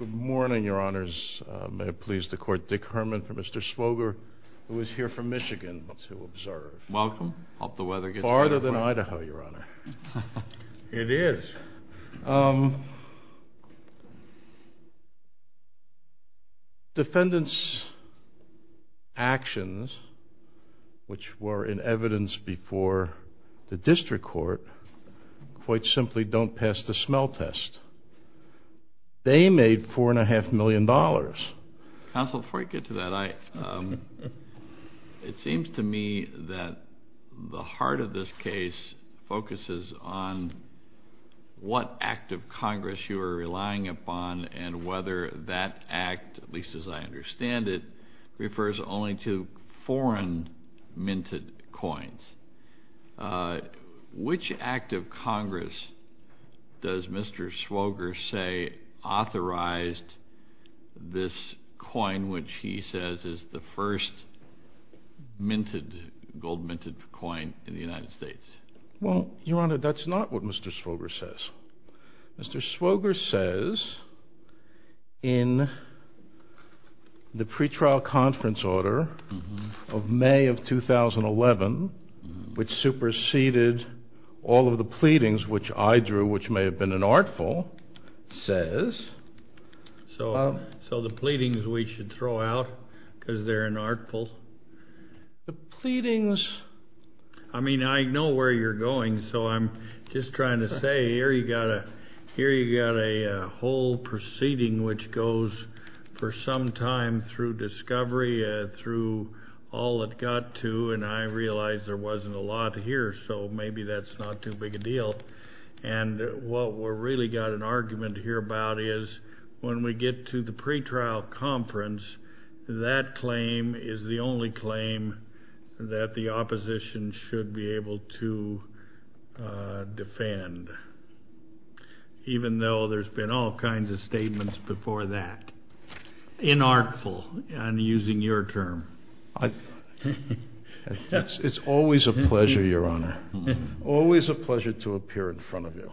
Good morning, Your Honors. May it please the Court, Dick Herman for Mr. Swoger, who is here from Michigan to observe. Welcome. Hope the weather gets better for you. Farther than Defendants' actions, which were in evidence before the district court, quite simply don't pass the smell test. They made $4.5 million. Counsel, before you get to that, it seems to me that the heart of this case focuses on what act of Congress you are relying upon and whether that act, at least as I understand it, refers only to foreign minted coins. Which act of Congress does Mr. Swoger say authorized this coin, which he says is the first gold-minted coin in the United States? Well, Your Honor, that's not what Mr. Swoger says. Mr. Swoger says in the pretrial conference order of May of 2011, which superseded all of the pleadings which I drew, which may have been an artful, says... So the pleadings we should throw out because they're an artful? The pleadings, I mean, I know where you're going. So I'm just trying to say here you got a whole proceeding which goes for some time through discovery, through all it got to, and I realize there wasn't a lot here. So maybe that's not too big a deal. And what we've really got an argument here about is when we get to the pretrial conference, that claim is the only claim that the opposition should be able to defend, even though there's been all kinds of statements before that. Inartful, I'm using your term. It's always a pleasure, Your Honor, always a pleasure to appear in front of you.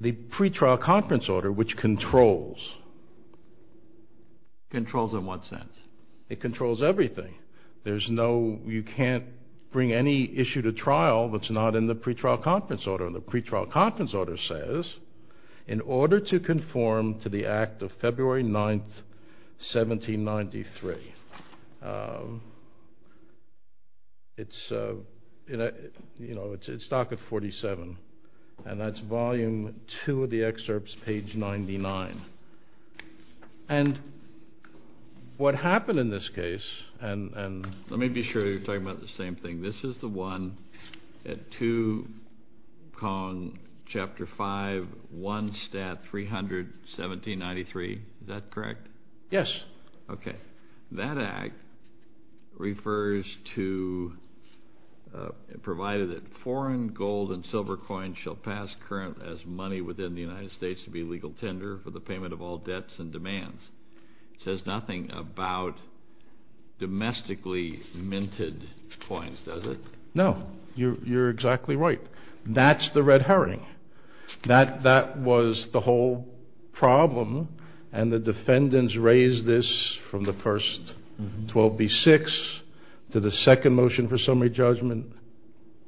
The pretrial conference order, which controls... Controls in what sense? It controls everything. There's no, you can't bring any issue to trial that's not in the pretrial conference order. And the pretrial conference order says, in order to conform to the act of February 9, 1793. It's, you know, it's docket 47. And that's volume two of the excerpts, page 99. And what happened in this case, and... Let me be sure you're talking about the same thing. This is the one at 2 Cong, Chapter 5, 1 Stat, 300, 1793. Is that correct? Yes. Okay. That act refers to, provided that foreign gold and silver coins shall pass current as money within the United States to be legal tender for the payment of all debts and demands. It says nothing about domestically minted coins, does it? No. You're exactly right. That's the red herring. That was the whole problem. And the defendants raised this from the first 12B-6 to the second motion for summary judgment,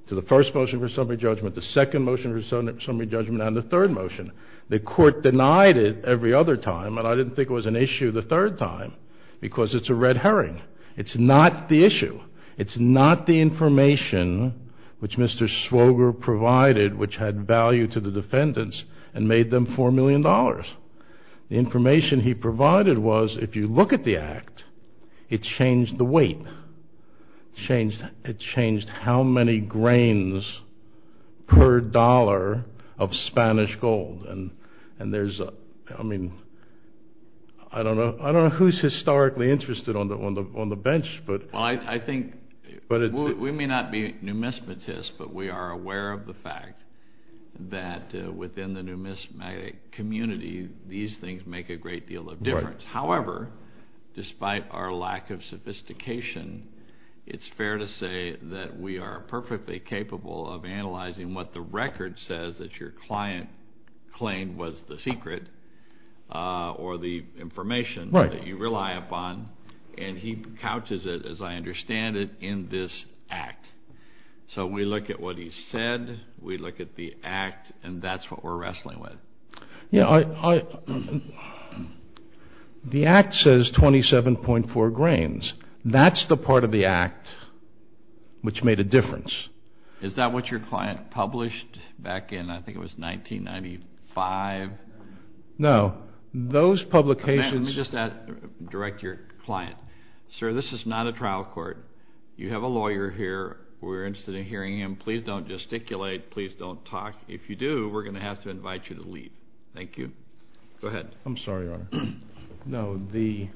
to the first motion for summary judgment, the second motion for summary judgment, and the third motion. The court denied it every other time, and I didn't think it was an issue the third time, because it's a red herring. It's not the issue. It's not the information which Mr. Swoger provided which had value to the defendants and made them $4 million. The information he provided was, if you look at the act, it changed the weight. It changed how many grains per dollar of Spanish gold. And there's, I mean, I don't know who's historically interested on the bench, but... Well, I think we may not be numismatists, but we are aware of the fact that within the numismatic community, these things make a great deal of difference. However, despite our lack of sophistication, it's fair to say that we are perfectly capable of analyzing what the record says that your client claimed was the secret or the information that you rely upon. And he couches it, as I understand it, in this act. So we look at what he said, we look at the act, and that's what we're wrestling with. Yeah, I... The act says 27.4 grains. That's the part of the act which made a difference. Is that what your client published back in, I think it was 1995? No, those publications... Direct your client. Sir, this is not a trial court. You have a lawyer here. We're interested in hearing him. Please don't gesticulate. Please don't talk. If you do, we're going to have to invite you to leave. Thank you. Go ahead. I'm sorry, Your Honor. No, the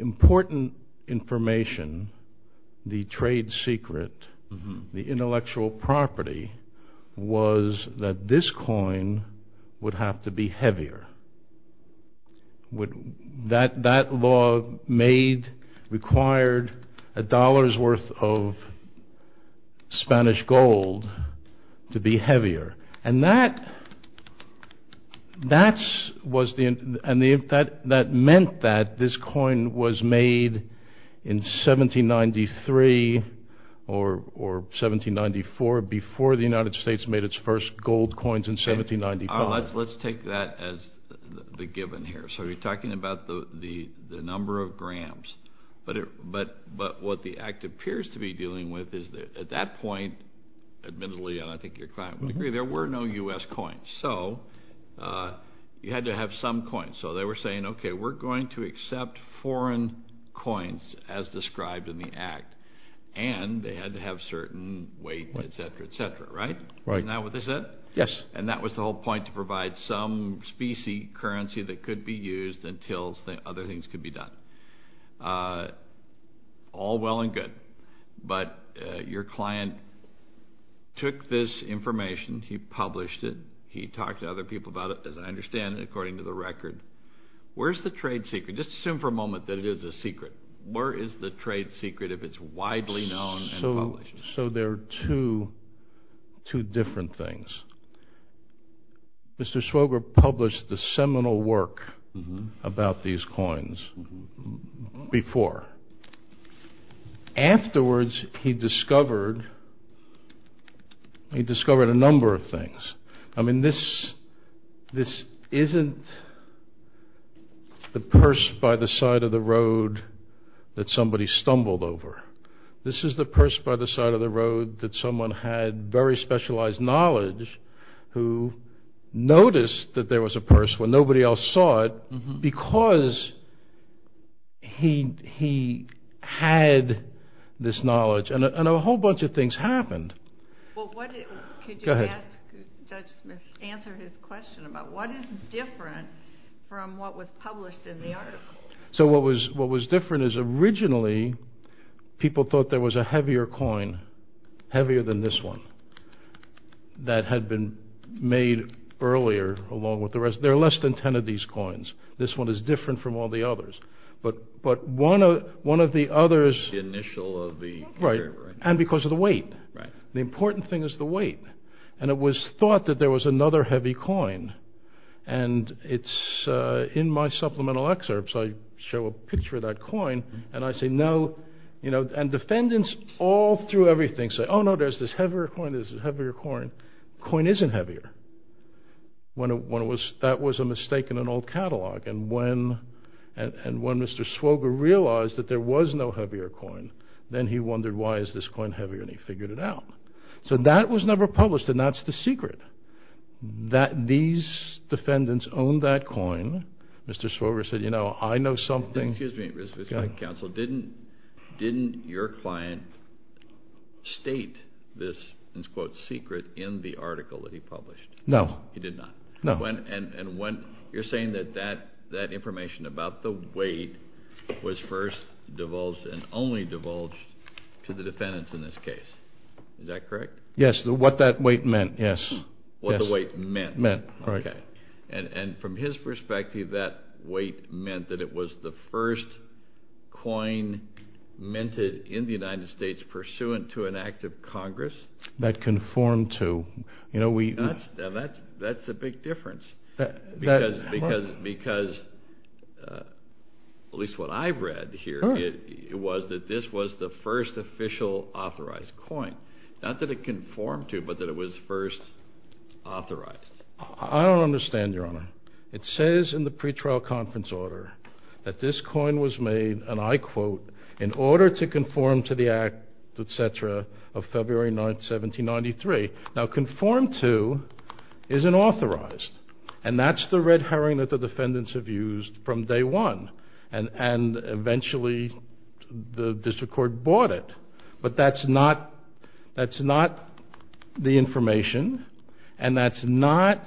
important information, the trade secret, the intellectual property, was that this coin would have to be heavier. That law made, required, a dollar's worth of Spanish gold to be heavier. And that meant that this coin was made in 1793 or 1794 before the United States made its first gold coins in 1795. Let's take that as the given here. So you're talking about the number of grams. But what the act appears to be dealing with is, at that point, admittedly, and I think your client would agree, there were no U.S. coins. So you had to have some coins. So they were saying, okay, we're going to accept foreign coins as described in the act. And they had to have certain weight, et cetera, et cetera. Right? Right. Isn't that what they said? Yes. And that was the whole point, to provide some specie currency that could be used until other things could be done. All well and good. But your client took this information. He published it. He talked to other people about it, as I understand it, according to the record. Where's the trade secret? Just assume for a moment that it is a secret. Where is the trade secret if it's widely known and published? So there are two different things. Mr. Swoger published the seminal work about these coins before. Afterwards, he discovered a number of things. I mean, this isn't the purse by the side of the road that somebody stumbled over. This is the purse by the side of the road that someone had very specialized knowledge who noticed that there was a purse where nobody else saw it because he had this knowledge. And a whole bunch of things happened. Could you ask Judge Smith, answer his question about what is different from what was published in the article? So what was different is originally people thought there was a heavier coin, heavier than this one, that had been made earlier along with the rest. There are less than 10 of these coins. This one is different from all the others. But one of the others… The initial of the… Right, and because of the weight. The important thing is the weight. And it was thought that there was another heavy coin. And it's in my supplemental excerpts, I show a picture of that coin and I say, no, you know, and defendants all through everything say, oh no, there's this heavier coin, there's this heavier coin. The coin isn't heavier. That was a mistake in an old catalog. And when Mr. Swoger realized that there was no heavier coin, then he wondered why is this coin heavier and he figured it out. So that was never published and that's the secret. These defendants owned that coin. Mr. Swoger said, you know, I know something… Excuse me, Mr. Counsel. Didn't your client state this, and it's called secret, in the article that he published? No. He did not? No. And you're saying that that information about the weight was first divulged and only divulged to the defendants in this case. Is that correct? Yes, what that weight meant, yes. What the weight meant? Meant, right. Okay. And from his perspective, that weight meant that it was the first coin minted in the United States pursuant to an act of Congress? That conformed to. That's a big difference because at least what I've read here, it was that this was the first official authorized coin. Not that it conformed to, but that it was first authorized. I don't understand, Your Honor. It says in the pretrial conference order that this coin was made, and I quote, in order to conform to the act, etc., of February 9th, 1793. Now, conformed to isn't authorized. And that's the red herring that the defendants have used from day one. And eventually the district court bought it. But that's not the information, and that's not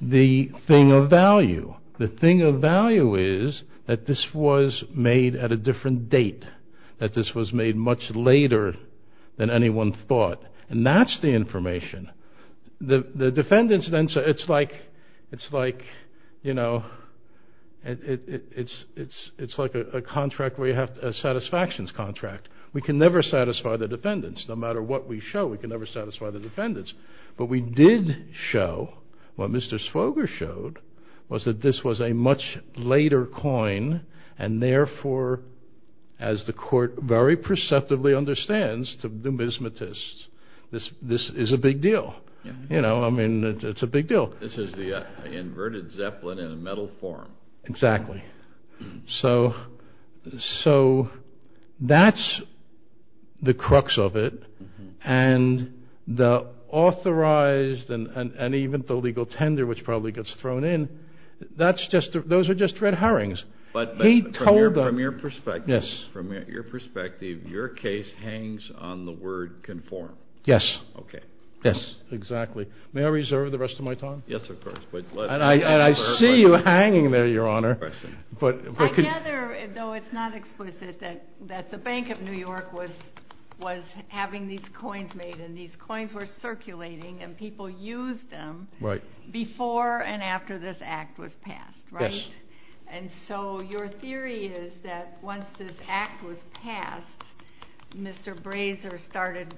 the thing of value. The thing of value is that this was made at a different date, that this was made much later than anyone thought. And that's the information. The defendants then say, it's like, you know, it's like a contract where you have a satisfactions contract. We can never satisfy the defendants. No matter what we show, we can never satisfy the defendants. But we did show, what Mr. Swoger showed, was that this was a much later coin, and therefore, as the court very perceptively understands to numismatists, this is a big deal. You know, I mean, it's a big deal. This is the inverted zeppelin in a metal form. Exactly. So that's the crux of it. And the authorized and even the legal tender, which probably gets thrown in, those are just red herrings. But from your perspective, your case hangs on the word conform. Yes. Okay. Yes, exactly. May I reserve the rest of my time? Yes, of course. And I see you hanging there, Your Honor. I gather, though it's not explicit, that the Bank of New York was having these coins made, and these coins were circulating, and people used them before and after this act was passed, right? Yes. And so your theory is that once this act was passed, Mr. Brazier started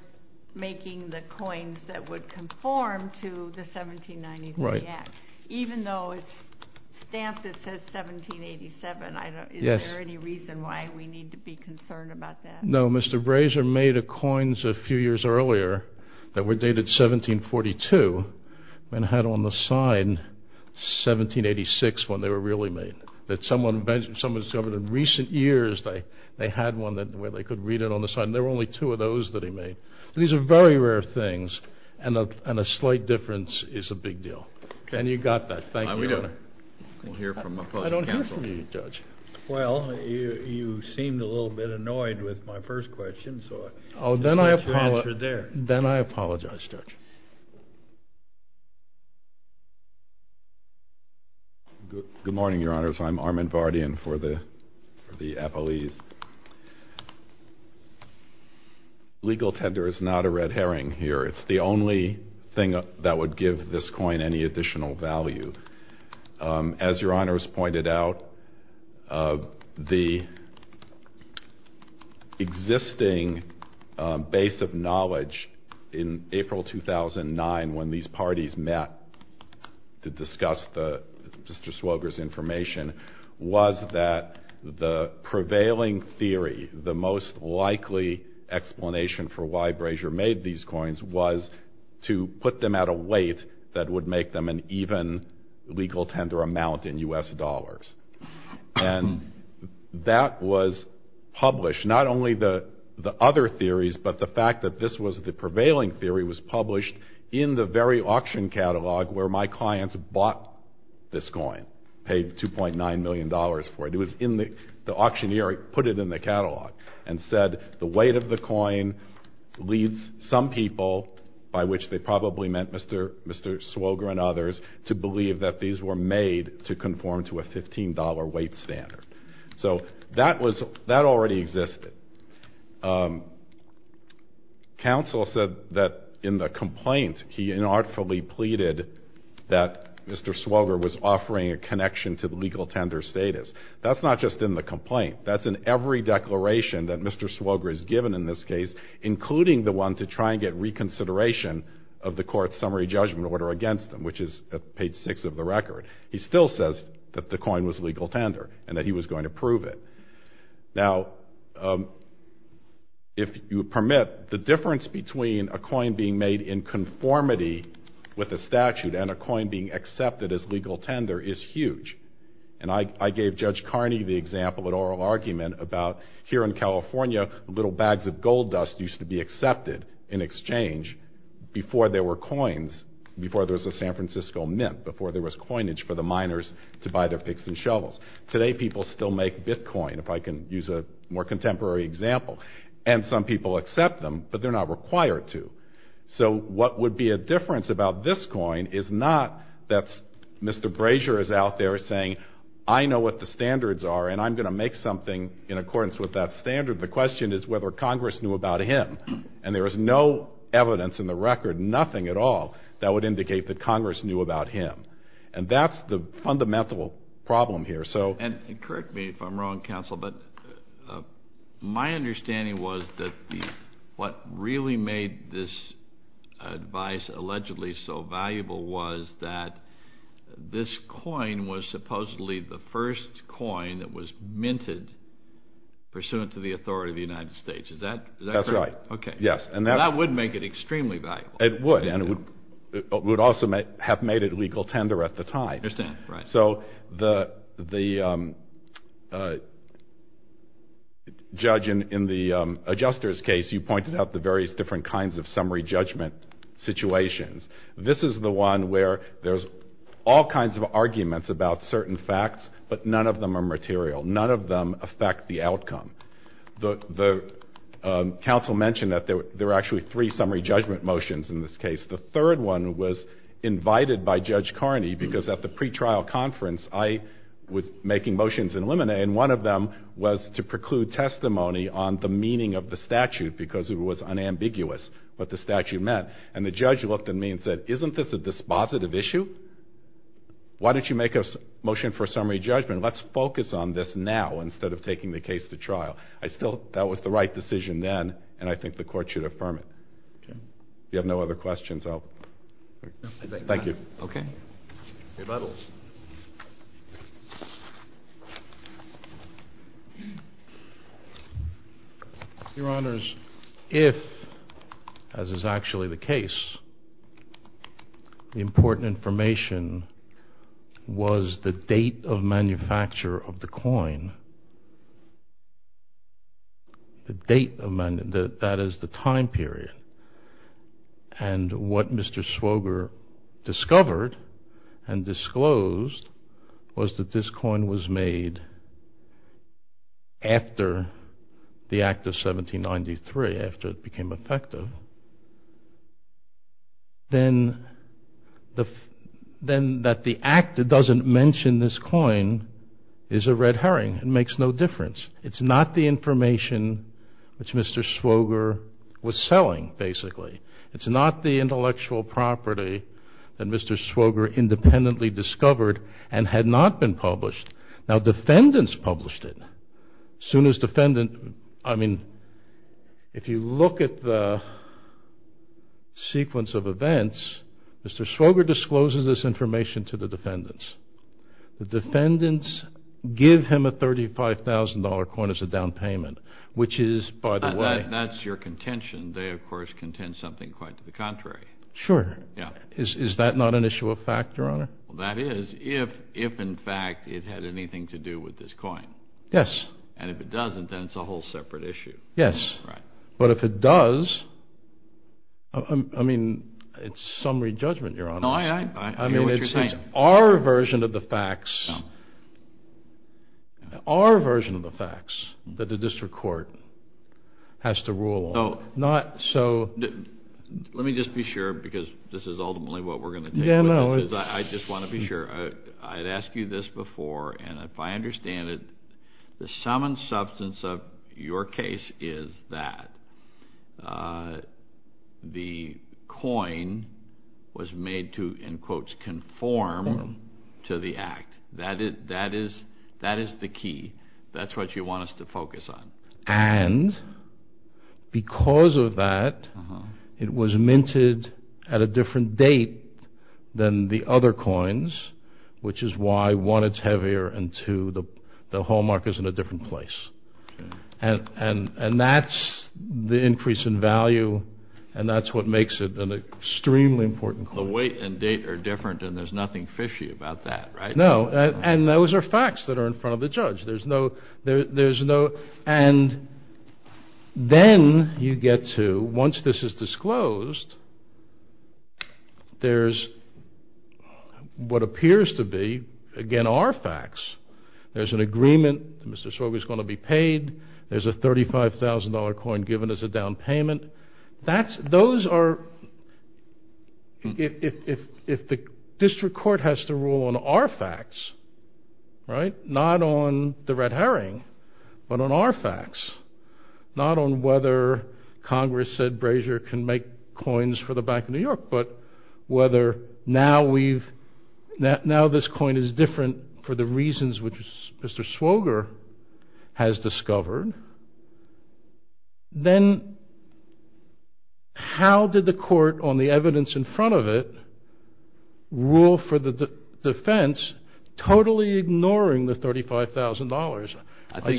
making the coins that would conform to the 1793 act. Right. Even though it's stamped that says 1787, is there any reason why we need to be concerned about that? No. Mr. Brazier made coins a few years earlier that were dated 1742 and had on the side 1786 when they were really made. Someone discovered in recent years they had one where they could read it on the side, and there were only two of those that he made. These are very rare things, and a slight difference is a big deal. And you got that. Thank you, Your Honor. I don't hear from you, Judge. Well, you seemed a little bit annoyed with my first question. Then I apologize, Judge. Good morning, Your Honors. I'm Armin Vardian for the Apolese. Legal tender is not a red herring here. It's the only thing that would give this coin any additional value. As Your Honors pointed out, the existing base of knowledge in April 2009 when these parties met to discuss Mr. Swoger's information was that the prevailing theory, the most likely explanation for why Brazier made these coins was to put them at a weight that would make them an even legal tender amount in U.S. dollars. And that was published, not only the other theories, but the fact that this was the prevailing theory was published in the very auction catalog where my clients bought this coin, paid $2.9 million for it. It was in the auctioneering, put it in the catalog, and said the weight of the coin leads some people, by which they probably meant Mr. Swoger and others, to believe that these were made to conform to a $15 weight standard. So that already existed. Counsel said that in the complaint he unartfully pleaded that Mr. Swoger was offering a connection to the legal tender status. That's not just in the complaint. That's in every declaration that Mr. Swoger has given in this case, including the one to try and get reconsideration of the court's summary judgment order against him, which is at page 6 of the record. He still says that the coin was legal tender and that he was going to prove it. Now, if you permit, the difference between a coin being made in conformity with a statute and a coin being accepted as legal tender is huge. And I gave Judge Carney the example in oral argument about here in California, little bags of gold dust used to be accepted in exchange before there were coins, before there was a San Francisco mint, before there was coinage for the miners to buy their picks and shovels. Today, people still make bitcoin, if I can use a more contemporary example. And some people accept them, but they're not required to. So what would be a difference about this coin is not that Mr. Brazier is out there saying I know what the standards are and I'm going to make something in accordance with that standard. The question is whether Congress knew about him. And there is no evidence in the record, nothing at all, that would indicate that Congress knew about him. And that's the fundamental problem here. And correct me if I'm wrong, Counsel, but my understanding was that what really made this advice allegedly so valuable was that this coin was supposedly the first coin that was minted pursuant to the authority of the United States. Is that correct? That's right. Okay. Yes. And that would make it extremely valuable. It would. And it would also have made it legal tender at the time. I understand. Right. So the judge in the adjuster's case, you pointed out the various different kinds of summary judgment situations. This is the one where there's all kinds of arguments about certain facts, but none of them are material. None of them affect the outcome. The counsel mentioned that there were actually three summary judgment motions in this case. The third one was invited by Judge Carney because at the pretrial conference I was making motions in limine and one of them was to preclude testimony on the meaning of the statute because it was unambiguous what the statute meant. And the judge looked at me and said, isn't this a dispositive issue? Why don't you make a motion for a summary judgment? Let's focus on this now instead of taking the case to trial. I still thought that was the right decision then, and I think the Court should affirm it. Okay. If you have no other questions, I'll... No. Thank you. Okay. Rebuttals. Your Honors, if, as is actually the case, the important information was the date of manufacture of the coin, the date of manufacture, that is the time period, and what Mr. Swoger discovered and disclosed was that this coin was made after the act of 1793, after it became effective, then that the act that doesn't mention this coin is a red herring and makes no difference. It's not the information which Mr. Swoger was selling, basically. It's not the intellectual property that Mr. Swoger independently discovered and had not been published. Now, defendants published it. As soon as defendants... I mean, if you look at the sequence of events, Mr. Swoger discloses this information to the defendants. The defendants give him a $35,000 coin as a down payment, which is, by the way... That's your contention. They, of course, contend something quite to the contrary. Sure. Yeah. Is that not an issue of fact, Your Honor? Well, that is, if, in fact, it had anything to do with this coin. Yes. And if it doesn't, then it's a whole separate issue. Yes. Right. No, I hear what you're saying. It's our version of the facts that the district court has to rule on. Not so... Let me just be sure, because this is ultimately what we're going to deal with. Yeah, I know. I just want to be sure. I'd asked you this before, and if I understand it, the sum and substance of your case is that the coin was made to, in quotes, conform to the act. That is the key. That's what you want us to focus on. And because of that, it was minted at a different date than the other coins, which is why, one, it's heavier, and two, the hallmark is in a different place. And that's the increase in value, and that's what makes it an extremely important coin. The weight and date are different, and there's nothing fishy about that, right? No. And those are facts that are in front of the judge. And then you get to, once this is disclosed, there's what appears to be, again, our facts. There's an agreement that Mr. Sorge is going to be paid. There's a $35,000 coin given as a down payment. Those are, if the district court has to rule on our facts, right, not on the red herring, but on our facts, not on whether Congress said Brazier can make coins for the Bank of New York, but whether now this coin is different for the reasons which Mr. Swoger has discovered, then how did the court on the evidence in front of it rule for the defense totally ignoring the $35,000?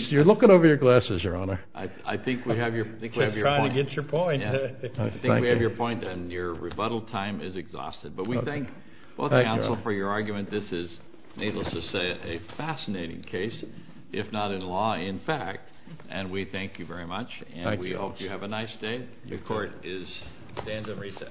You're looking over your glasses, Your Honor. I think we have your point. Just trying to get your point. I think we have your point, and your rebuttal time is exhausted. But we thank both the counsel for your argument. This is, needless to say, a fascinating case, if not in law, in fact. And we thank you very much, and we hope you have a nice day. The court stands in recess.